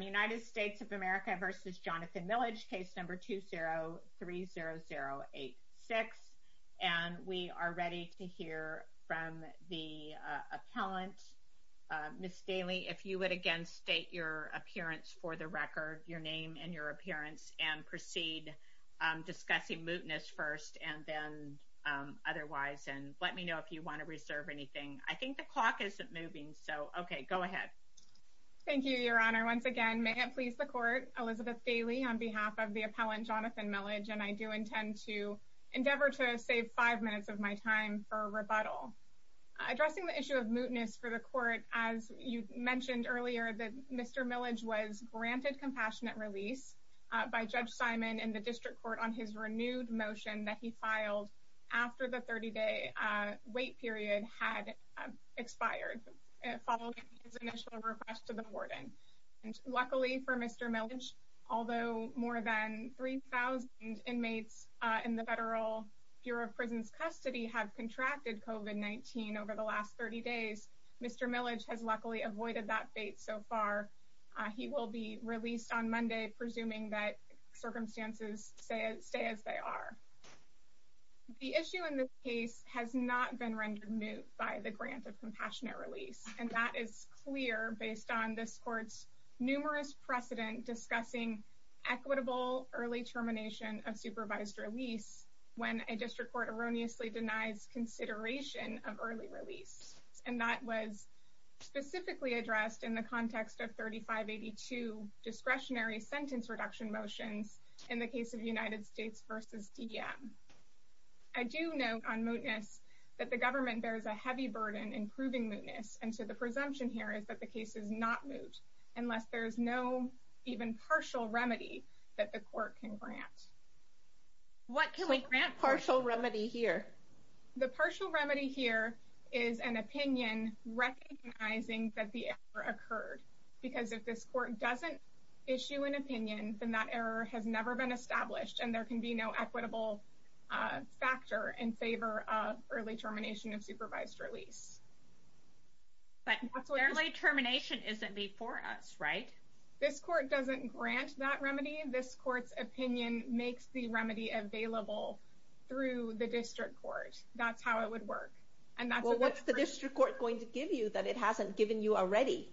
United States of America v. Jonathan Millage case number 2030086 and we are ready to hear from the appellant. Ms. Daly if you would again state your appearance for the record your name and your appearance and proceed discussing mootness first and then otherwise and let me know if you want to reserve anything. I think the clock isn't moving so okay go ahead. Thank you your honor once again may it please the court Elizabeth Daly on behalf of the appellant Jonathan Millage and I do intend to endeavor to save five minutes of my time for a rebuttal. Addressing the issue of mootness for the court as you mentioned earlier that Mr. Millage was granted compassionate release by Judge Simon in the district court on his renewed motion that he filed after the 30-day wait period had expired. Luckily for Mr. Millage although more than 3,000 inmates in the federal Bureau of Prisons custody have contracted COVID-19 over the last 30 days Mr. Millage has luckily avoided that fate so far. He will be released on Monday presuming that circumstances stay as they are. The issue in this case has not been rendered moot by the grant of compassionate release and that is clear based on this court's numerous precedent discussing equitable early termination of supervised release when a district court erroneously denies consideration of early release and that was specifically addressed in the context of 3582 discretionary sentence reduction motions in the case of United States versus DM. I do know on mootness that the government bears a heavy burden in proving mootness and so the presumption here is that the case is not moot unless there's no even partial remedy that the court can grant. What can we grant partial remedy here? The partial remedy here is an opinion recognizing that the error occurred because if this court doesn't issue an opinion then that error has never been established and there can be no equitable factor in favor of early termination of supervised release. But early termination isn't before us right? This court doesn't grant that remedy. This court's opinion makes the remedy available through the district court. That's how it would work. And what's the district court going to give you that it hasn't given you already?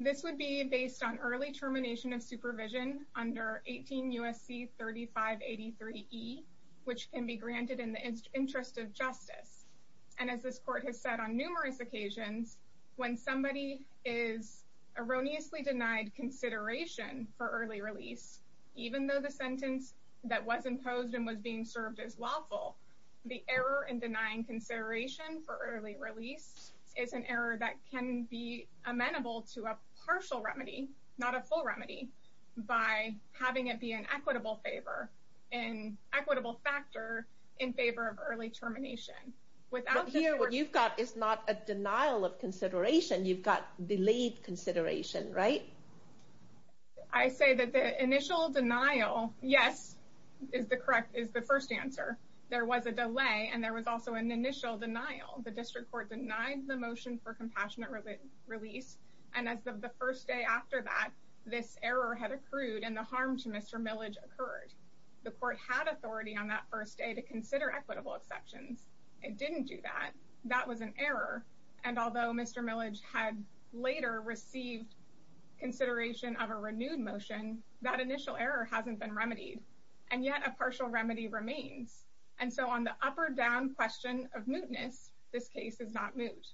This would be based on early termination of supervision under 18 USC 3583 E which can be granted in the interest of justice and as this court has said on numerous occasions when somebody is erroneously denied consideration for early release even though the sentence that was imposed and was being served as lawful the error in denying consideration for early release is an error that can be amenable to a partial remedy not a full remedy by having it be an equitable favor and equitable factor in favor of early termination. Here what you've got is not a denial of consideration you've got delayed consideration right? I say that the initial denial yes is the correct is the first answer there was a delay and there was also an initial denial. The district court denied the motion for compassionate release and as of the first day after that this error had accrued and the harm to Mr. Millage occurred. The court had authority on that first day to consider equitable exceptions. It didn't do that. That was an error and although Mr. Millage had later received consideration of a renewed motion that initial error hasn't been remedied and yet a partial remedy remains and so on the up or down question of mootness this case is not moot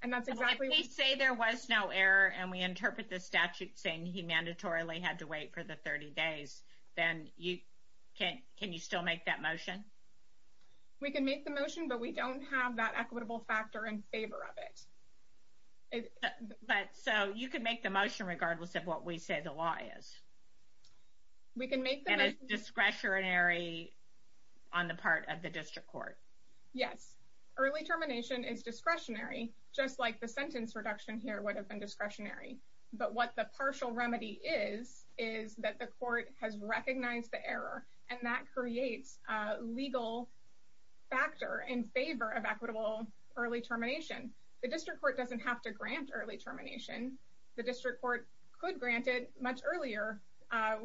and that's exactly. If we say there was no error and we interpret the statute saying he mandatorily had to wait for the 30 days then you can't can you still make that motion? We can make the motion but we don't have that equitable factor in favor of it. But so you can make the motion regardless of what we say the law is. And it's discretionary on the part of the district court. Yes early termination is discretionary just like the sentence reduction here would have been discretionary but what the partial remedy is is that the court has recognized the error and that creates a legal factor in favor of equitable early termination. The district court doesn't have to grant early termination. The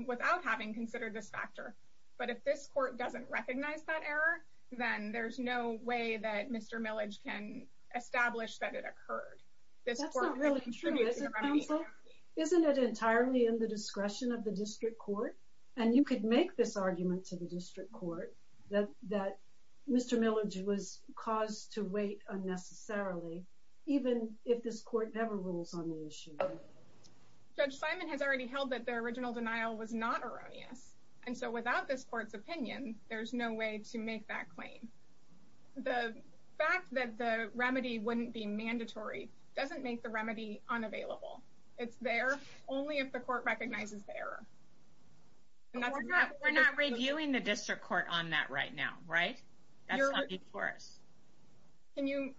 without having considered this factor but if this court doesn't recognize that error then there's no way that Mr. Millage can establish that it occurred. Isn't it entirely in the discretion of the district court and you could make this argument to the district court that that Mr. Millage was caused to wait unnecessarily even if this court never rules on the issue. Judge Simon has already held that the original denial was not erroneous and so without this court's opinion there's no way to make that claim. The fact that the remedy wouldn't be mandatory doesn't make the remedy unavailable. It's there only if the court recognizes the error. We're not reviewing the district court on that right now right? That's not before us. Can you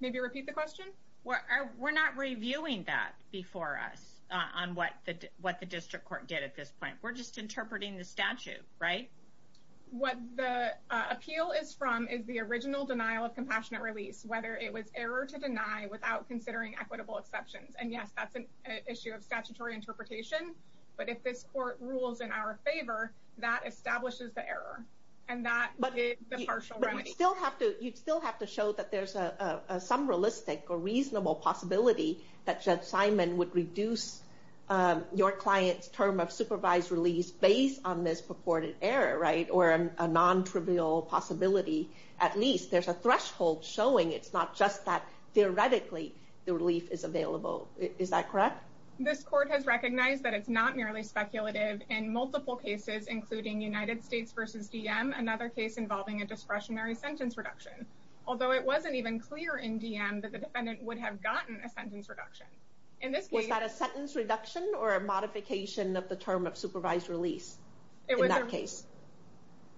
maybe repeat the question? We're not reviewing that before us on what the what the district court did at this point. We're just interpreting the statute right? What the appeal is from is the original denial of compassionate release whether it was error to deny without considering equitable exceptions and yes that's an issue of statutory interpretation but if this court rules in our favor that establishes the error and that is the partial remedy. But you still have to you still have to show that there's a some realistic or reasonable possibility that Judge Simon would reduce your client's term of supervised release based on this purported error right? Or a non-trivial possibility at least. There's a threshold showing it's not just that theoretically the relief is available. Is that correct? This court has recognized that it's not merely speculative in multiple cases including United States versus DM another case involving a discretionary sentence reduction. Although it wasn't even clear in DM that the defendant would have gotten a sentence reduction. Was that a sentence reduction or a modification of the term of supervised release in that case?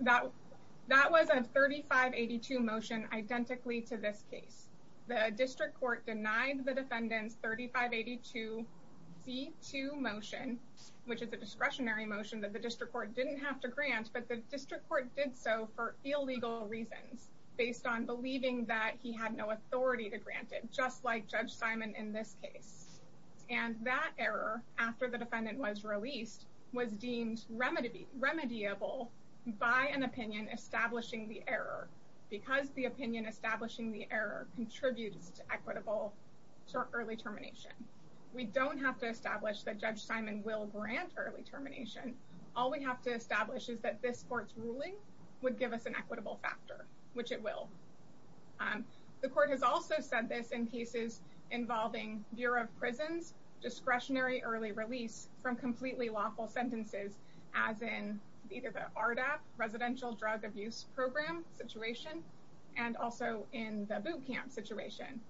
That was a 3582 motion identically to this case. The district court denied the defendants 3582 C2 motion which is a discretionary motion that the district court didn't have to based on believing that he had no authority to grant it just like Judge Simon in this case. And that error after the defendant was released was deemed remedy remediable by an opinion establishing the error. Because the opinion establishing the error contributes to equitable early termination. We don't have to establish that Judge Simon will grant early termination. All we have to establish is that this court's ruling would give us an equitable factor which it will. The court has also said this in cases involving Bureau of Prisons discretionary early release from completely lawful sentences as in either the ARDAP residential drug abuse program situation and also in the boot camp situation.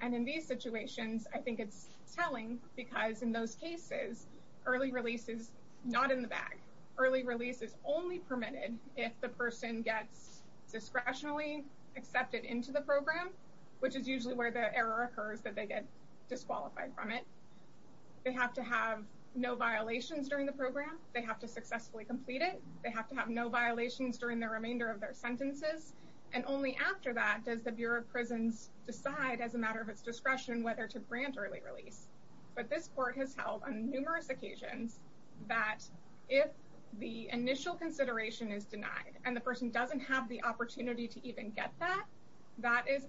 And in these situations I think it's telling because in those cases early release is not in the bag. Early release is only permitted if the person gets discretionally accepted into the program which is usually where the error occurs that they get disqualified from it. They have to have no violations during the program. They have to successfully complete it. They have to have no violations during the remainder of their sentences. And only after that does the Bureau of Prisons decide as a matter of its discretion whether to grant early release. But this court has held on numerous occasions that if the initial consideration is denied and the person doesn't have the opportunity to even get that, that is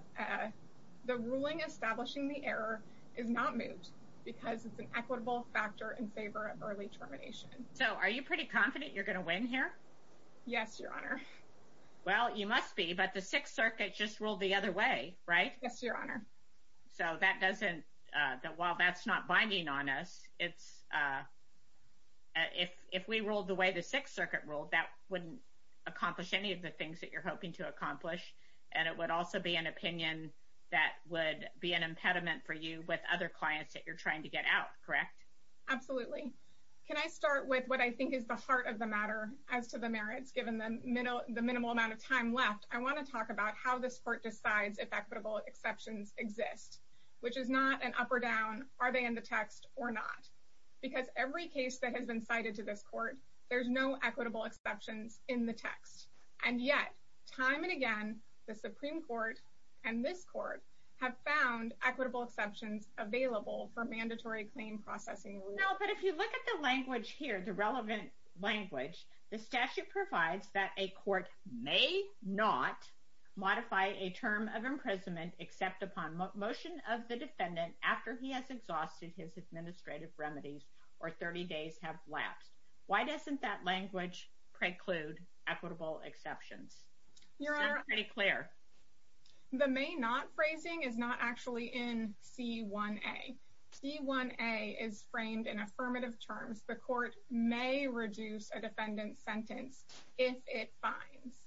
the ruling establishing the error is not moved because it's an equitable factor in favor of early termination. So are you pretty confident you're gonna win here? Yes, Your Honor. Well, you must be. But the Sixth Circuit just ruled the other way, right? Yes, Your Honor. So that doesn't while that's not binding on us, it's if we ruled the way the Sixth Circuit ruled, that wouldn't accomplish any of the things that you're hoping to accomplish. And it would also be an opinion that would be an impediment for you with other clients that you're trying to get out, correct? Absolutely. Can I start with what I think is the heart of the matter as to the merits given the minimal amount of time left? I want to talk about how this court decides if equitable exceptions exist, which is not an up or down. Are they in the text or not? Because every case that has been cited to this court, there's no equitable exceptions in the text. And yet, time and again, the Supreme Court and this court have found equitable exceptions available for mandatory claim processing. No, but if you look at the language here, the relevant language, the statute provides that a court may not modify a term of imprisonment except upon motion of the defendant after he has exhausted his administrative remedies, or 30 days have lapsed. Why doesn't that language preclude equitable exceptions? Your Honor, pretty clear. The may not phrasing is not actually in C1a. C1a is if it finds.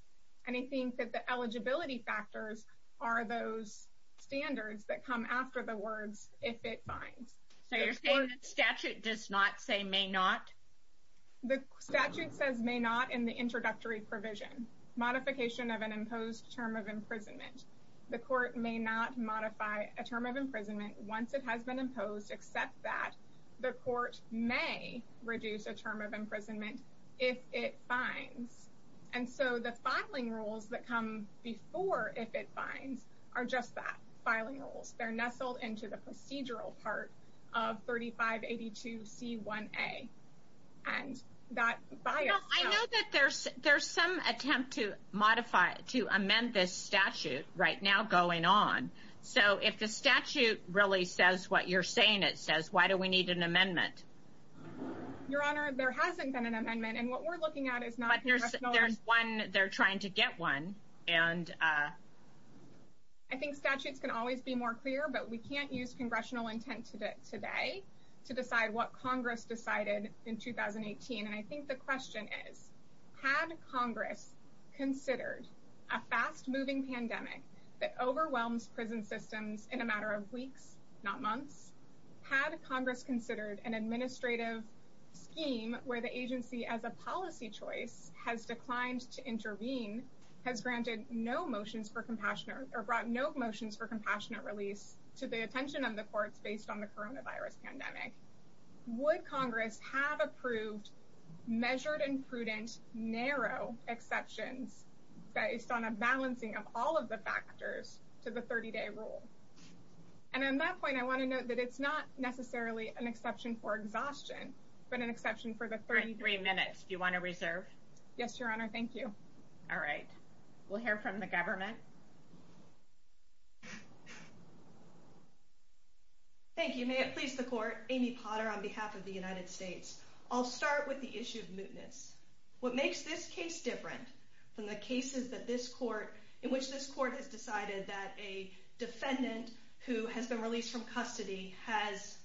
And I think that the eligibility factors are those standards that come after the words, if it finds. So you're saying the statute does not say may not? The statute says may not in the introductory provision. Modification of an imposed term of imprisonment. The court may not modify a term of imprisonment once it has been imposed, except that the court may reduce a term of imprisonment if it finds. And so the filing rules that come before, if it finds, are just that, filing rules. They're nestled into the procedural part of 3582 C1a. And that bias... I know that there's some attempt to modify, to amend this statute right now going on. So if the statute really says what you're saying it says, why do we need an amendment? Your Honor, there hasn't been an amendment. And what we're looking at is not... But there's one. They're trying to get one. And, uh... I think statutes can always be more clear, but we can't use congressional intent today to decide what Congress decided in 2018. And I think the question is, had Congress considered a fast moving pandemic that overwhelms prison systems in a matter of weeks, not months? Had Congress considered an administrative scheme where the agency, as a policy choice, has declined to intervene, has granted no motions for compassionate or brought no motions for compassionate release to the attention of the courts based on the coronavirus pandemic? Would Congress have approved measured and prudent, narrow exceptions based on a balancing of all of the factors to the 30-day rule? And on that point, I want to note that it's not necessarily an exception for exhaustion, but an exception for the 33 minutes. Do you want to reserve? Yes, Your Honor. Thank you. All right. We'll hear from the government. Thank you. May it please the Court. Amy Potter on behalf of the United States. I'll start with the issue of mootness. What makes this case different from the cases that this court, in which this court has decided that a defendant who has been released from custody has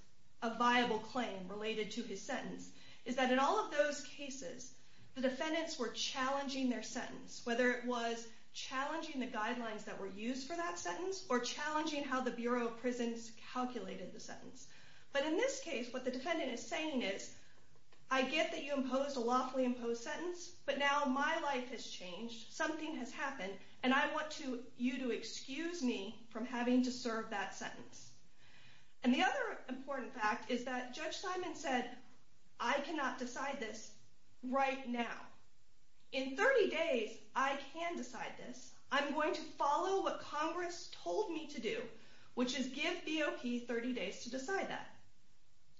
a viable claim related to his sentence, is that in all of those cases, the defendants were challenging their sentence, whether it was challenging the guidelines that were used for that sentence or challenging how the Bureau of Prisons calculated the sentence. But in this case, what the defendant is saying is, I get that you imposed a lawfully imposed sentence, but now my life has changed. Something has happened. And the other important fact is that Judge Simon said, I cannot decide this right now. In 30 days, I can decide this. I'm going to follow what Congress told me to do, which is give BOP 30 days to decide that.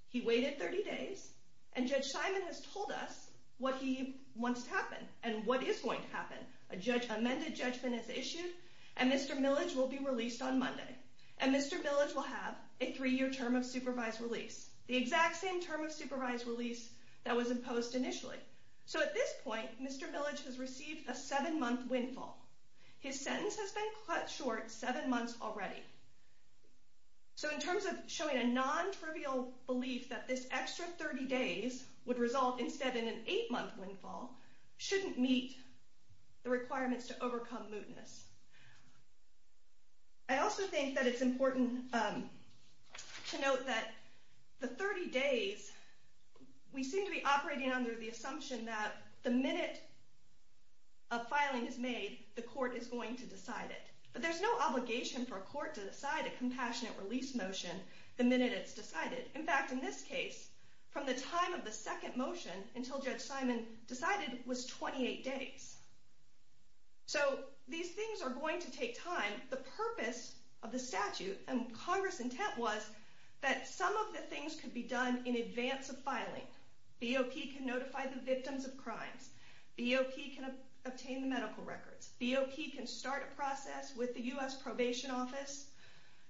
He waited 30 days, and Judge Simon has told us what he wants to happen and what is going to happen. An amended judgment is issued, and Mr. Millage will be have a three-year term of supervised release, the exact same term of supervised release that was imposed initially. So at this point, Mr. Millage has received a seven-month windfall. His sentence has been cut short seven months already. So in terms of showing a non-trivial belief that this extra 30 days would result instead in an eight-month windfall shouldn't meet the to note that the 30 days, we seem to be operating under the assumption that the minute a filing is made, the court is going to decide it. But there's no obligation for a court to decide a compassionate release motion the minute it's decided. In fact, in this case, from the time of the second motion until Judge Simon decided was 28 days. So these things are going to take time. The intent was that some of the things could be done in advance of filing. BOP can notify the victims of crimes. BOP can obtain the medical records. BOP can start a process with the U.S. Probation Office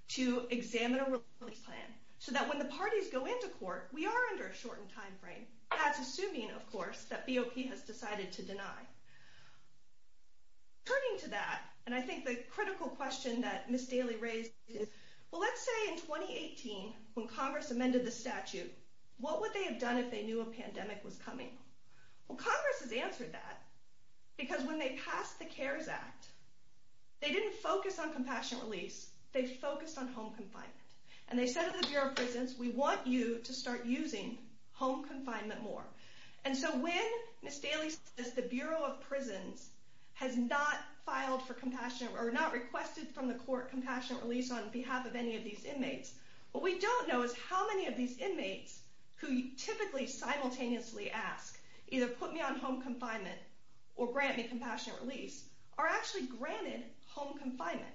to examine a release plan, so that when the parties go into court, we are under a shortened time frame. That's assuming, of course, that BOP has decided to deny. Turning to that, and I think the in 2018, when Congress amended the statute, what would they have done if they knew a pandemic was coming? Well, Congress has answered that, because when they passed the CARES Act, they didn't focus on compassionate release. They focused on home confinement. And they said to the Bureau of Prisons, we want you to start using home confinement more. And so when Ms. Daly says the Bureau of Prisons has not filed for compassionate, or not requested from the court compassionate release on behalf of any of these inmates, what we don't know is how many of these inmates who typically simultaneously ask, either put me on home confinement or grant me compassionate release, are actually granted home confinement.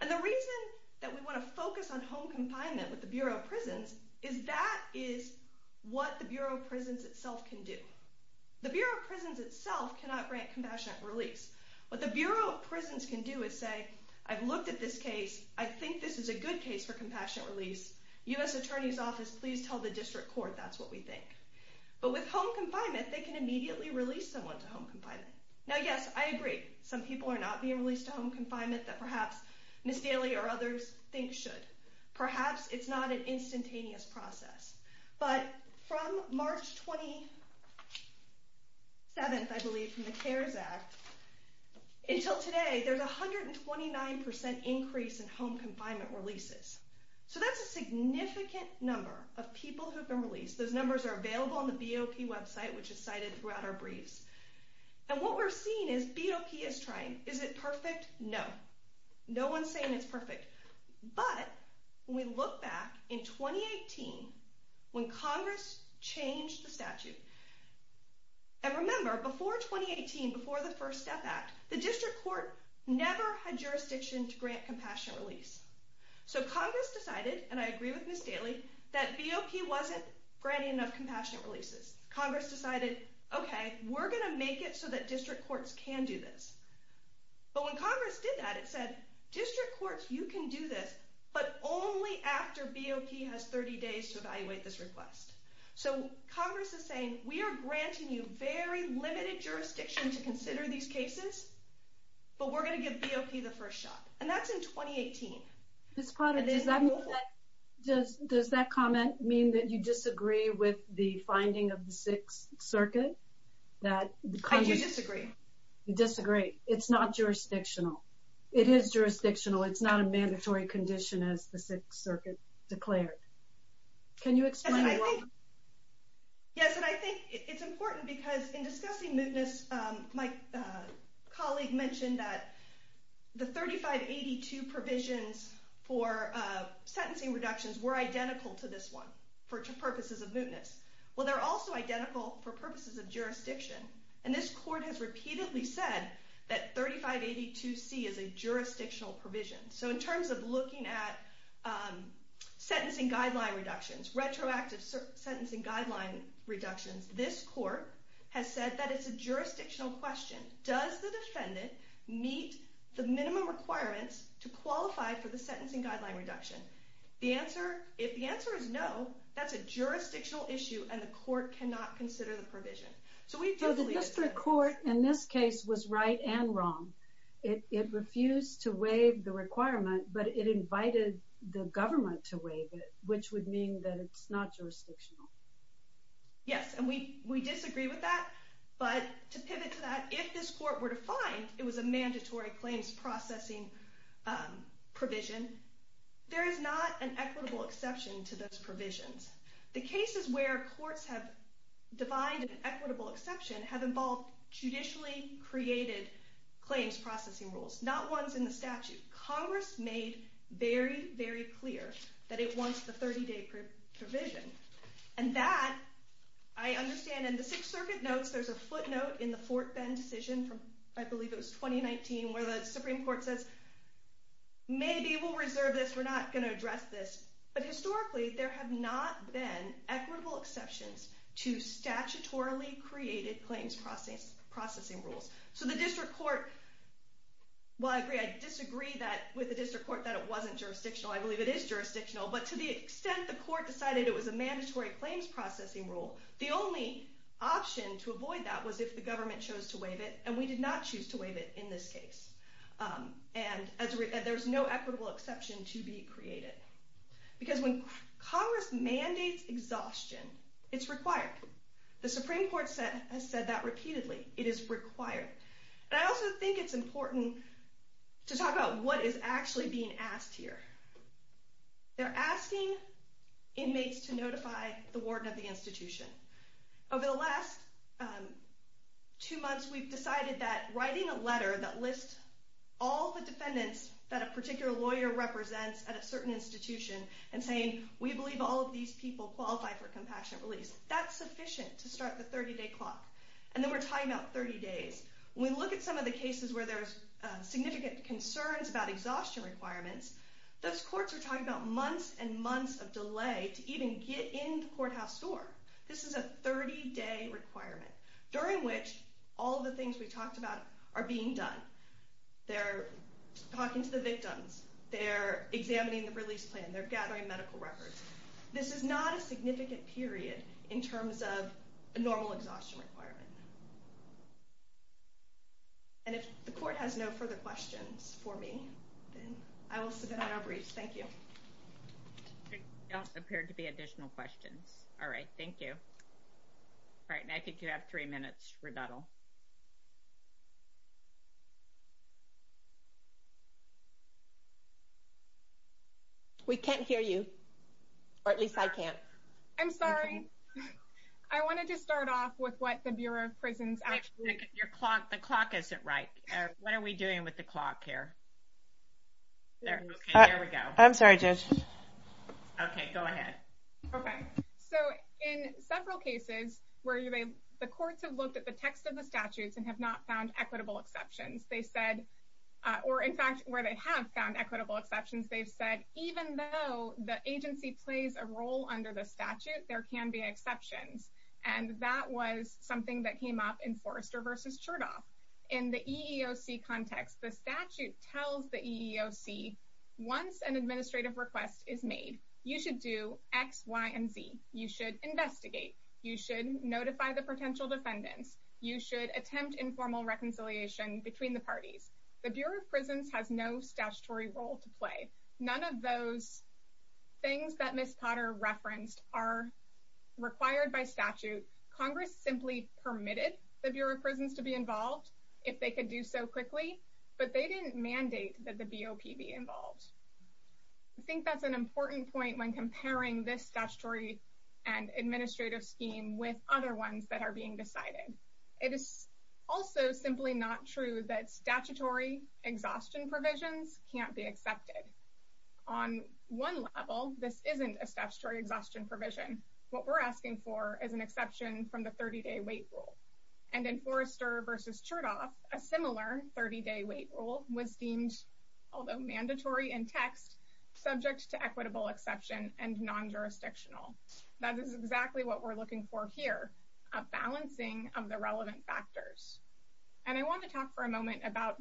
And the reason that we want to focus on home confinement with the Bureau of Prisons is that is what the Bureau of Prisons itself can do. The Bureau of Prisons itself cannot grant compassionate release. What the Bureau of Prisons can do in this case, I think this is a good case for compassionate release. U.S. Attorney's Office, please tell the district court that's what we think. But with home confinement, they can immediately release someone to home confinement. Now, yes, I agree. Some people are not being released to home confinement that perhaps Ms. Daly or others think should. Perhaps it's not an instantaneous process. But from March 27th, I believe, from the CARES Act, until today, there's a 129% increase in home confinement releases. So that's a significant number of people who've been released. Those numbers are available on the BOP website, which is cited throughout our briefs. And what we're seeing is BOP is trying. Is it perfect? No. No one's saying it's perfect. But when we look back in 2018, when Congress changed the statute, and remember, before 2018, before the First Step Act, the district court never had jurisdiction to grant compassionate release. So Congress decided, and I agree with Ms. Daly, that BOP wasn't granting enough compassionate releases. Congress decided, OK, we're going to make it so that district courts can do this. But when Congress did that, it said, district courts, you can do this, but only after BOP has 30 days to evaluate this request. So Congress is saying, we are granting you very limited jurisdiction to consider these cases, but we're going to give BOP the first shot. And that's in 2018. Ms. Potter, does that comment mean that you disagree with the finding of the Sixth Circuit? That you disagree. You disagree. It's not jurisdictional. It is jurisdictional. It's not a mandatory condition, as the Sixth Circuit declared. Can you explain why? Yes, and I think it's important because in my colleague mentioned that the 3582 provisions for sentencing reductions were identical to this one for purposes of mootness. Well, they're also identical for purposes of jurisdiction. And this court has repeatedly said that 3582C is a jurisdictional provision. So in terms of looking at sentencing guideline reductions, retroactive sentencing guideline reductions, this court has said that it's a jurisdictional question. Does the defendant meet the minimum requirements to qualify for the sentencing guideline reduction? The answer, if the answer is no, that's a jurisdictional issue and the court cannot consider the provision. So the district court in this case was right and wrong. It refused to waive the requirement, but it invited the government to waive it, which would mean that it's not jurisdictional. Yes, and we But to pivot to that, if this court were to find it was a mandatory claims processing provision, there is not an equitable exception to those provisions. The cases where courts have defined an equitable exception have involved judicially created claims processing rules, not ones in the statute. Congress made very, very clear that it wants the 30-day provision. And that, I understand, in the Sixth Circuit notes, there's a footnote in the Fort Bend decision from, I believe it was 2019, where the Supreme Court says, maybe we'll reserve this, we're not going to address this. But historically, there have not been equitable exceptions to statutorily created claims processing rules. So the district court, well I agree, I disagree that with the district court that it wasn't jurisdictional. I believe it is jurisdictional, but to the extent that the court decided it was a mandatory claims processing rule, the only option to avoid that was if the government chose to waive it, and we did not choose to waive it in this case. And there's no equitable exception to be created. Because when Congress mandates exhaustion, it's required. The Supreme Court has said that repeatedly. It is required. And I also think it's being asked here. They're asking inmates to notify the warden of the institution. Over the last two months, we've decided that writing a letter that lists all the defendants that a particular lawyer represents at a certain institution, and saying, we believe all of these people qualify for compassionate release, that's sufficient to start the 30-day clock. And then we're talking about 30 days. When we look at some of the cases where there's significant concerns about exhaustion requirements, those courts are talking about months and months of delay to even get in the courthouse door. This is a 30-day requirement, during which all the things we talked about are being done. They're talking to the victims. They're examining the release plan. They're gathering medical records. This is not a significant period in terms of a normal exhaustion requirement. And if the court has no further questions for me, then I will sit down and I'll brief. Thank you. There don't appear to be additional questions. All right. Thank you. All right. And I think you have three minutes for rebuttal. We can't hear you. Or at least I can't. I'm sorry. I wanted to start off with what the Bureau of Prisons actually did. The clock isn't right. What are we doing with the clock here? I'm sorry, Judge. Okay, go ahead. Okay. So in several cases where the courts have looked at the text of the statutes and have not found equitable exceptions, they said, or in fact, where they have found equitable exceptions, they've said, even though the agency plays a role under the statute, there can be exceptions. And that was something that came up in Forrester v. Chertoff. In the EEOC context, the statute tells the EEOC, once an administrative request is made, you should do X, Y, and Z. You should investigate. You should notify the potential defendants. You should attempt informal reconciliation between the parties. The Bureau of Prisons has no statutory role to play. None of those things that Ms. Potter referenced are required by statute. Congress simply permitted the Bureau of Prisons to be involved if they could do so quickly, but they didn't mandate that the BOP be involved. I think that's an important point when comparing this statutory and administrative scheme with other ones that are being decided. It is also simply not true that statutory exhaustion provisions can't be accepted. On one level, this isn't a statutory exhaustion provision. What we're asking for is an exception from the 30-day wait rule. And in Forrester v. Chertoff, a similar 30-day wait rule was deemed, although mandatory in text, subject to equitable exception and non-jurisdictional. That is exactly what we're looking for here, a balancing of the relevant factors. And I want to talk for a moment about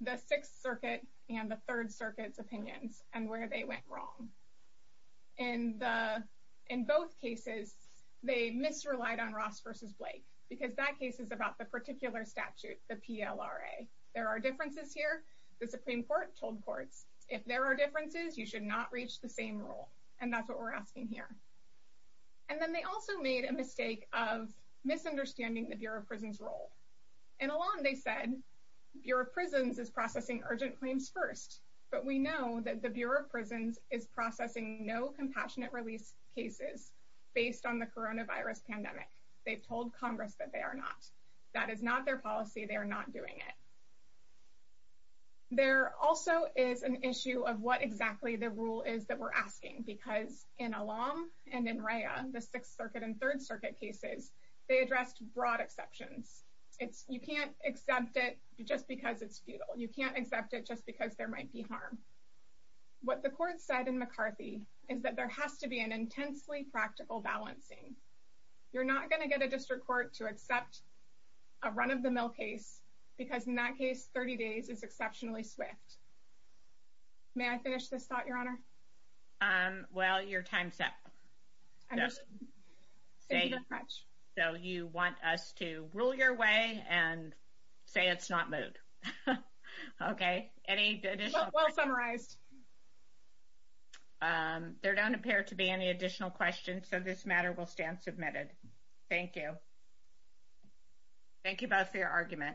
the Sixth Circuit and the Third Circuit's opinions and where they went wrong. In both cases, they misrelied on Ross v. Blake, because that case is about the particular statute, the PLRA. There are differences here. The Supreme Court told courts, if there are differences, you should not reach the same rule. And that's what we're asking here. And then they also made a mistake of misunderstanding the Bureau of Prisons' role. In Elan, they said, Bureau of Prisons is processing urgent claims first. But we know that the Bureau of Prisons is processing no compassionate release cases based on the coronavirus pandemic. They've told Congress that they are not. That is not their policy. They are not doing it. There also is an issue of what exactly the rule is that we're asking, because in Elan and in Rhea, the Sixth Circuit and Third Circuit cases, they addressed broad exceptions. You can't accept it just because it's futile. You can't accept it just because there might be harm. What the court said in McCarthy is that there has to be an intensely practical balancing. You're not going to get a district court to accept a run-of-the-mill case, because in that case, 30 days is exceptionally swift. May I finish this thought, Your Honor? Well, your time's up. So you want us to rule your way and say it's not moved. Okay. Well summarized. There don't appear to be any additional questions, so this matter will stand submitted. Thank you. Thank you both for your argument.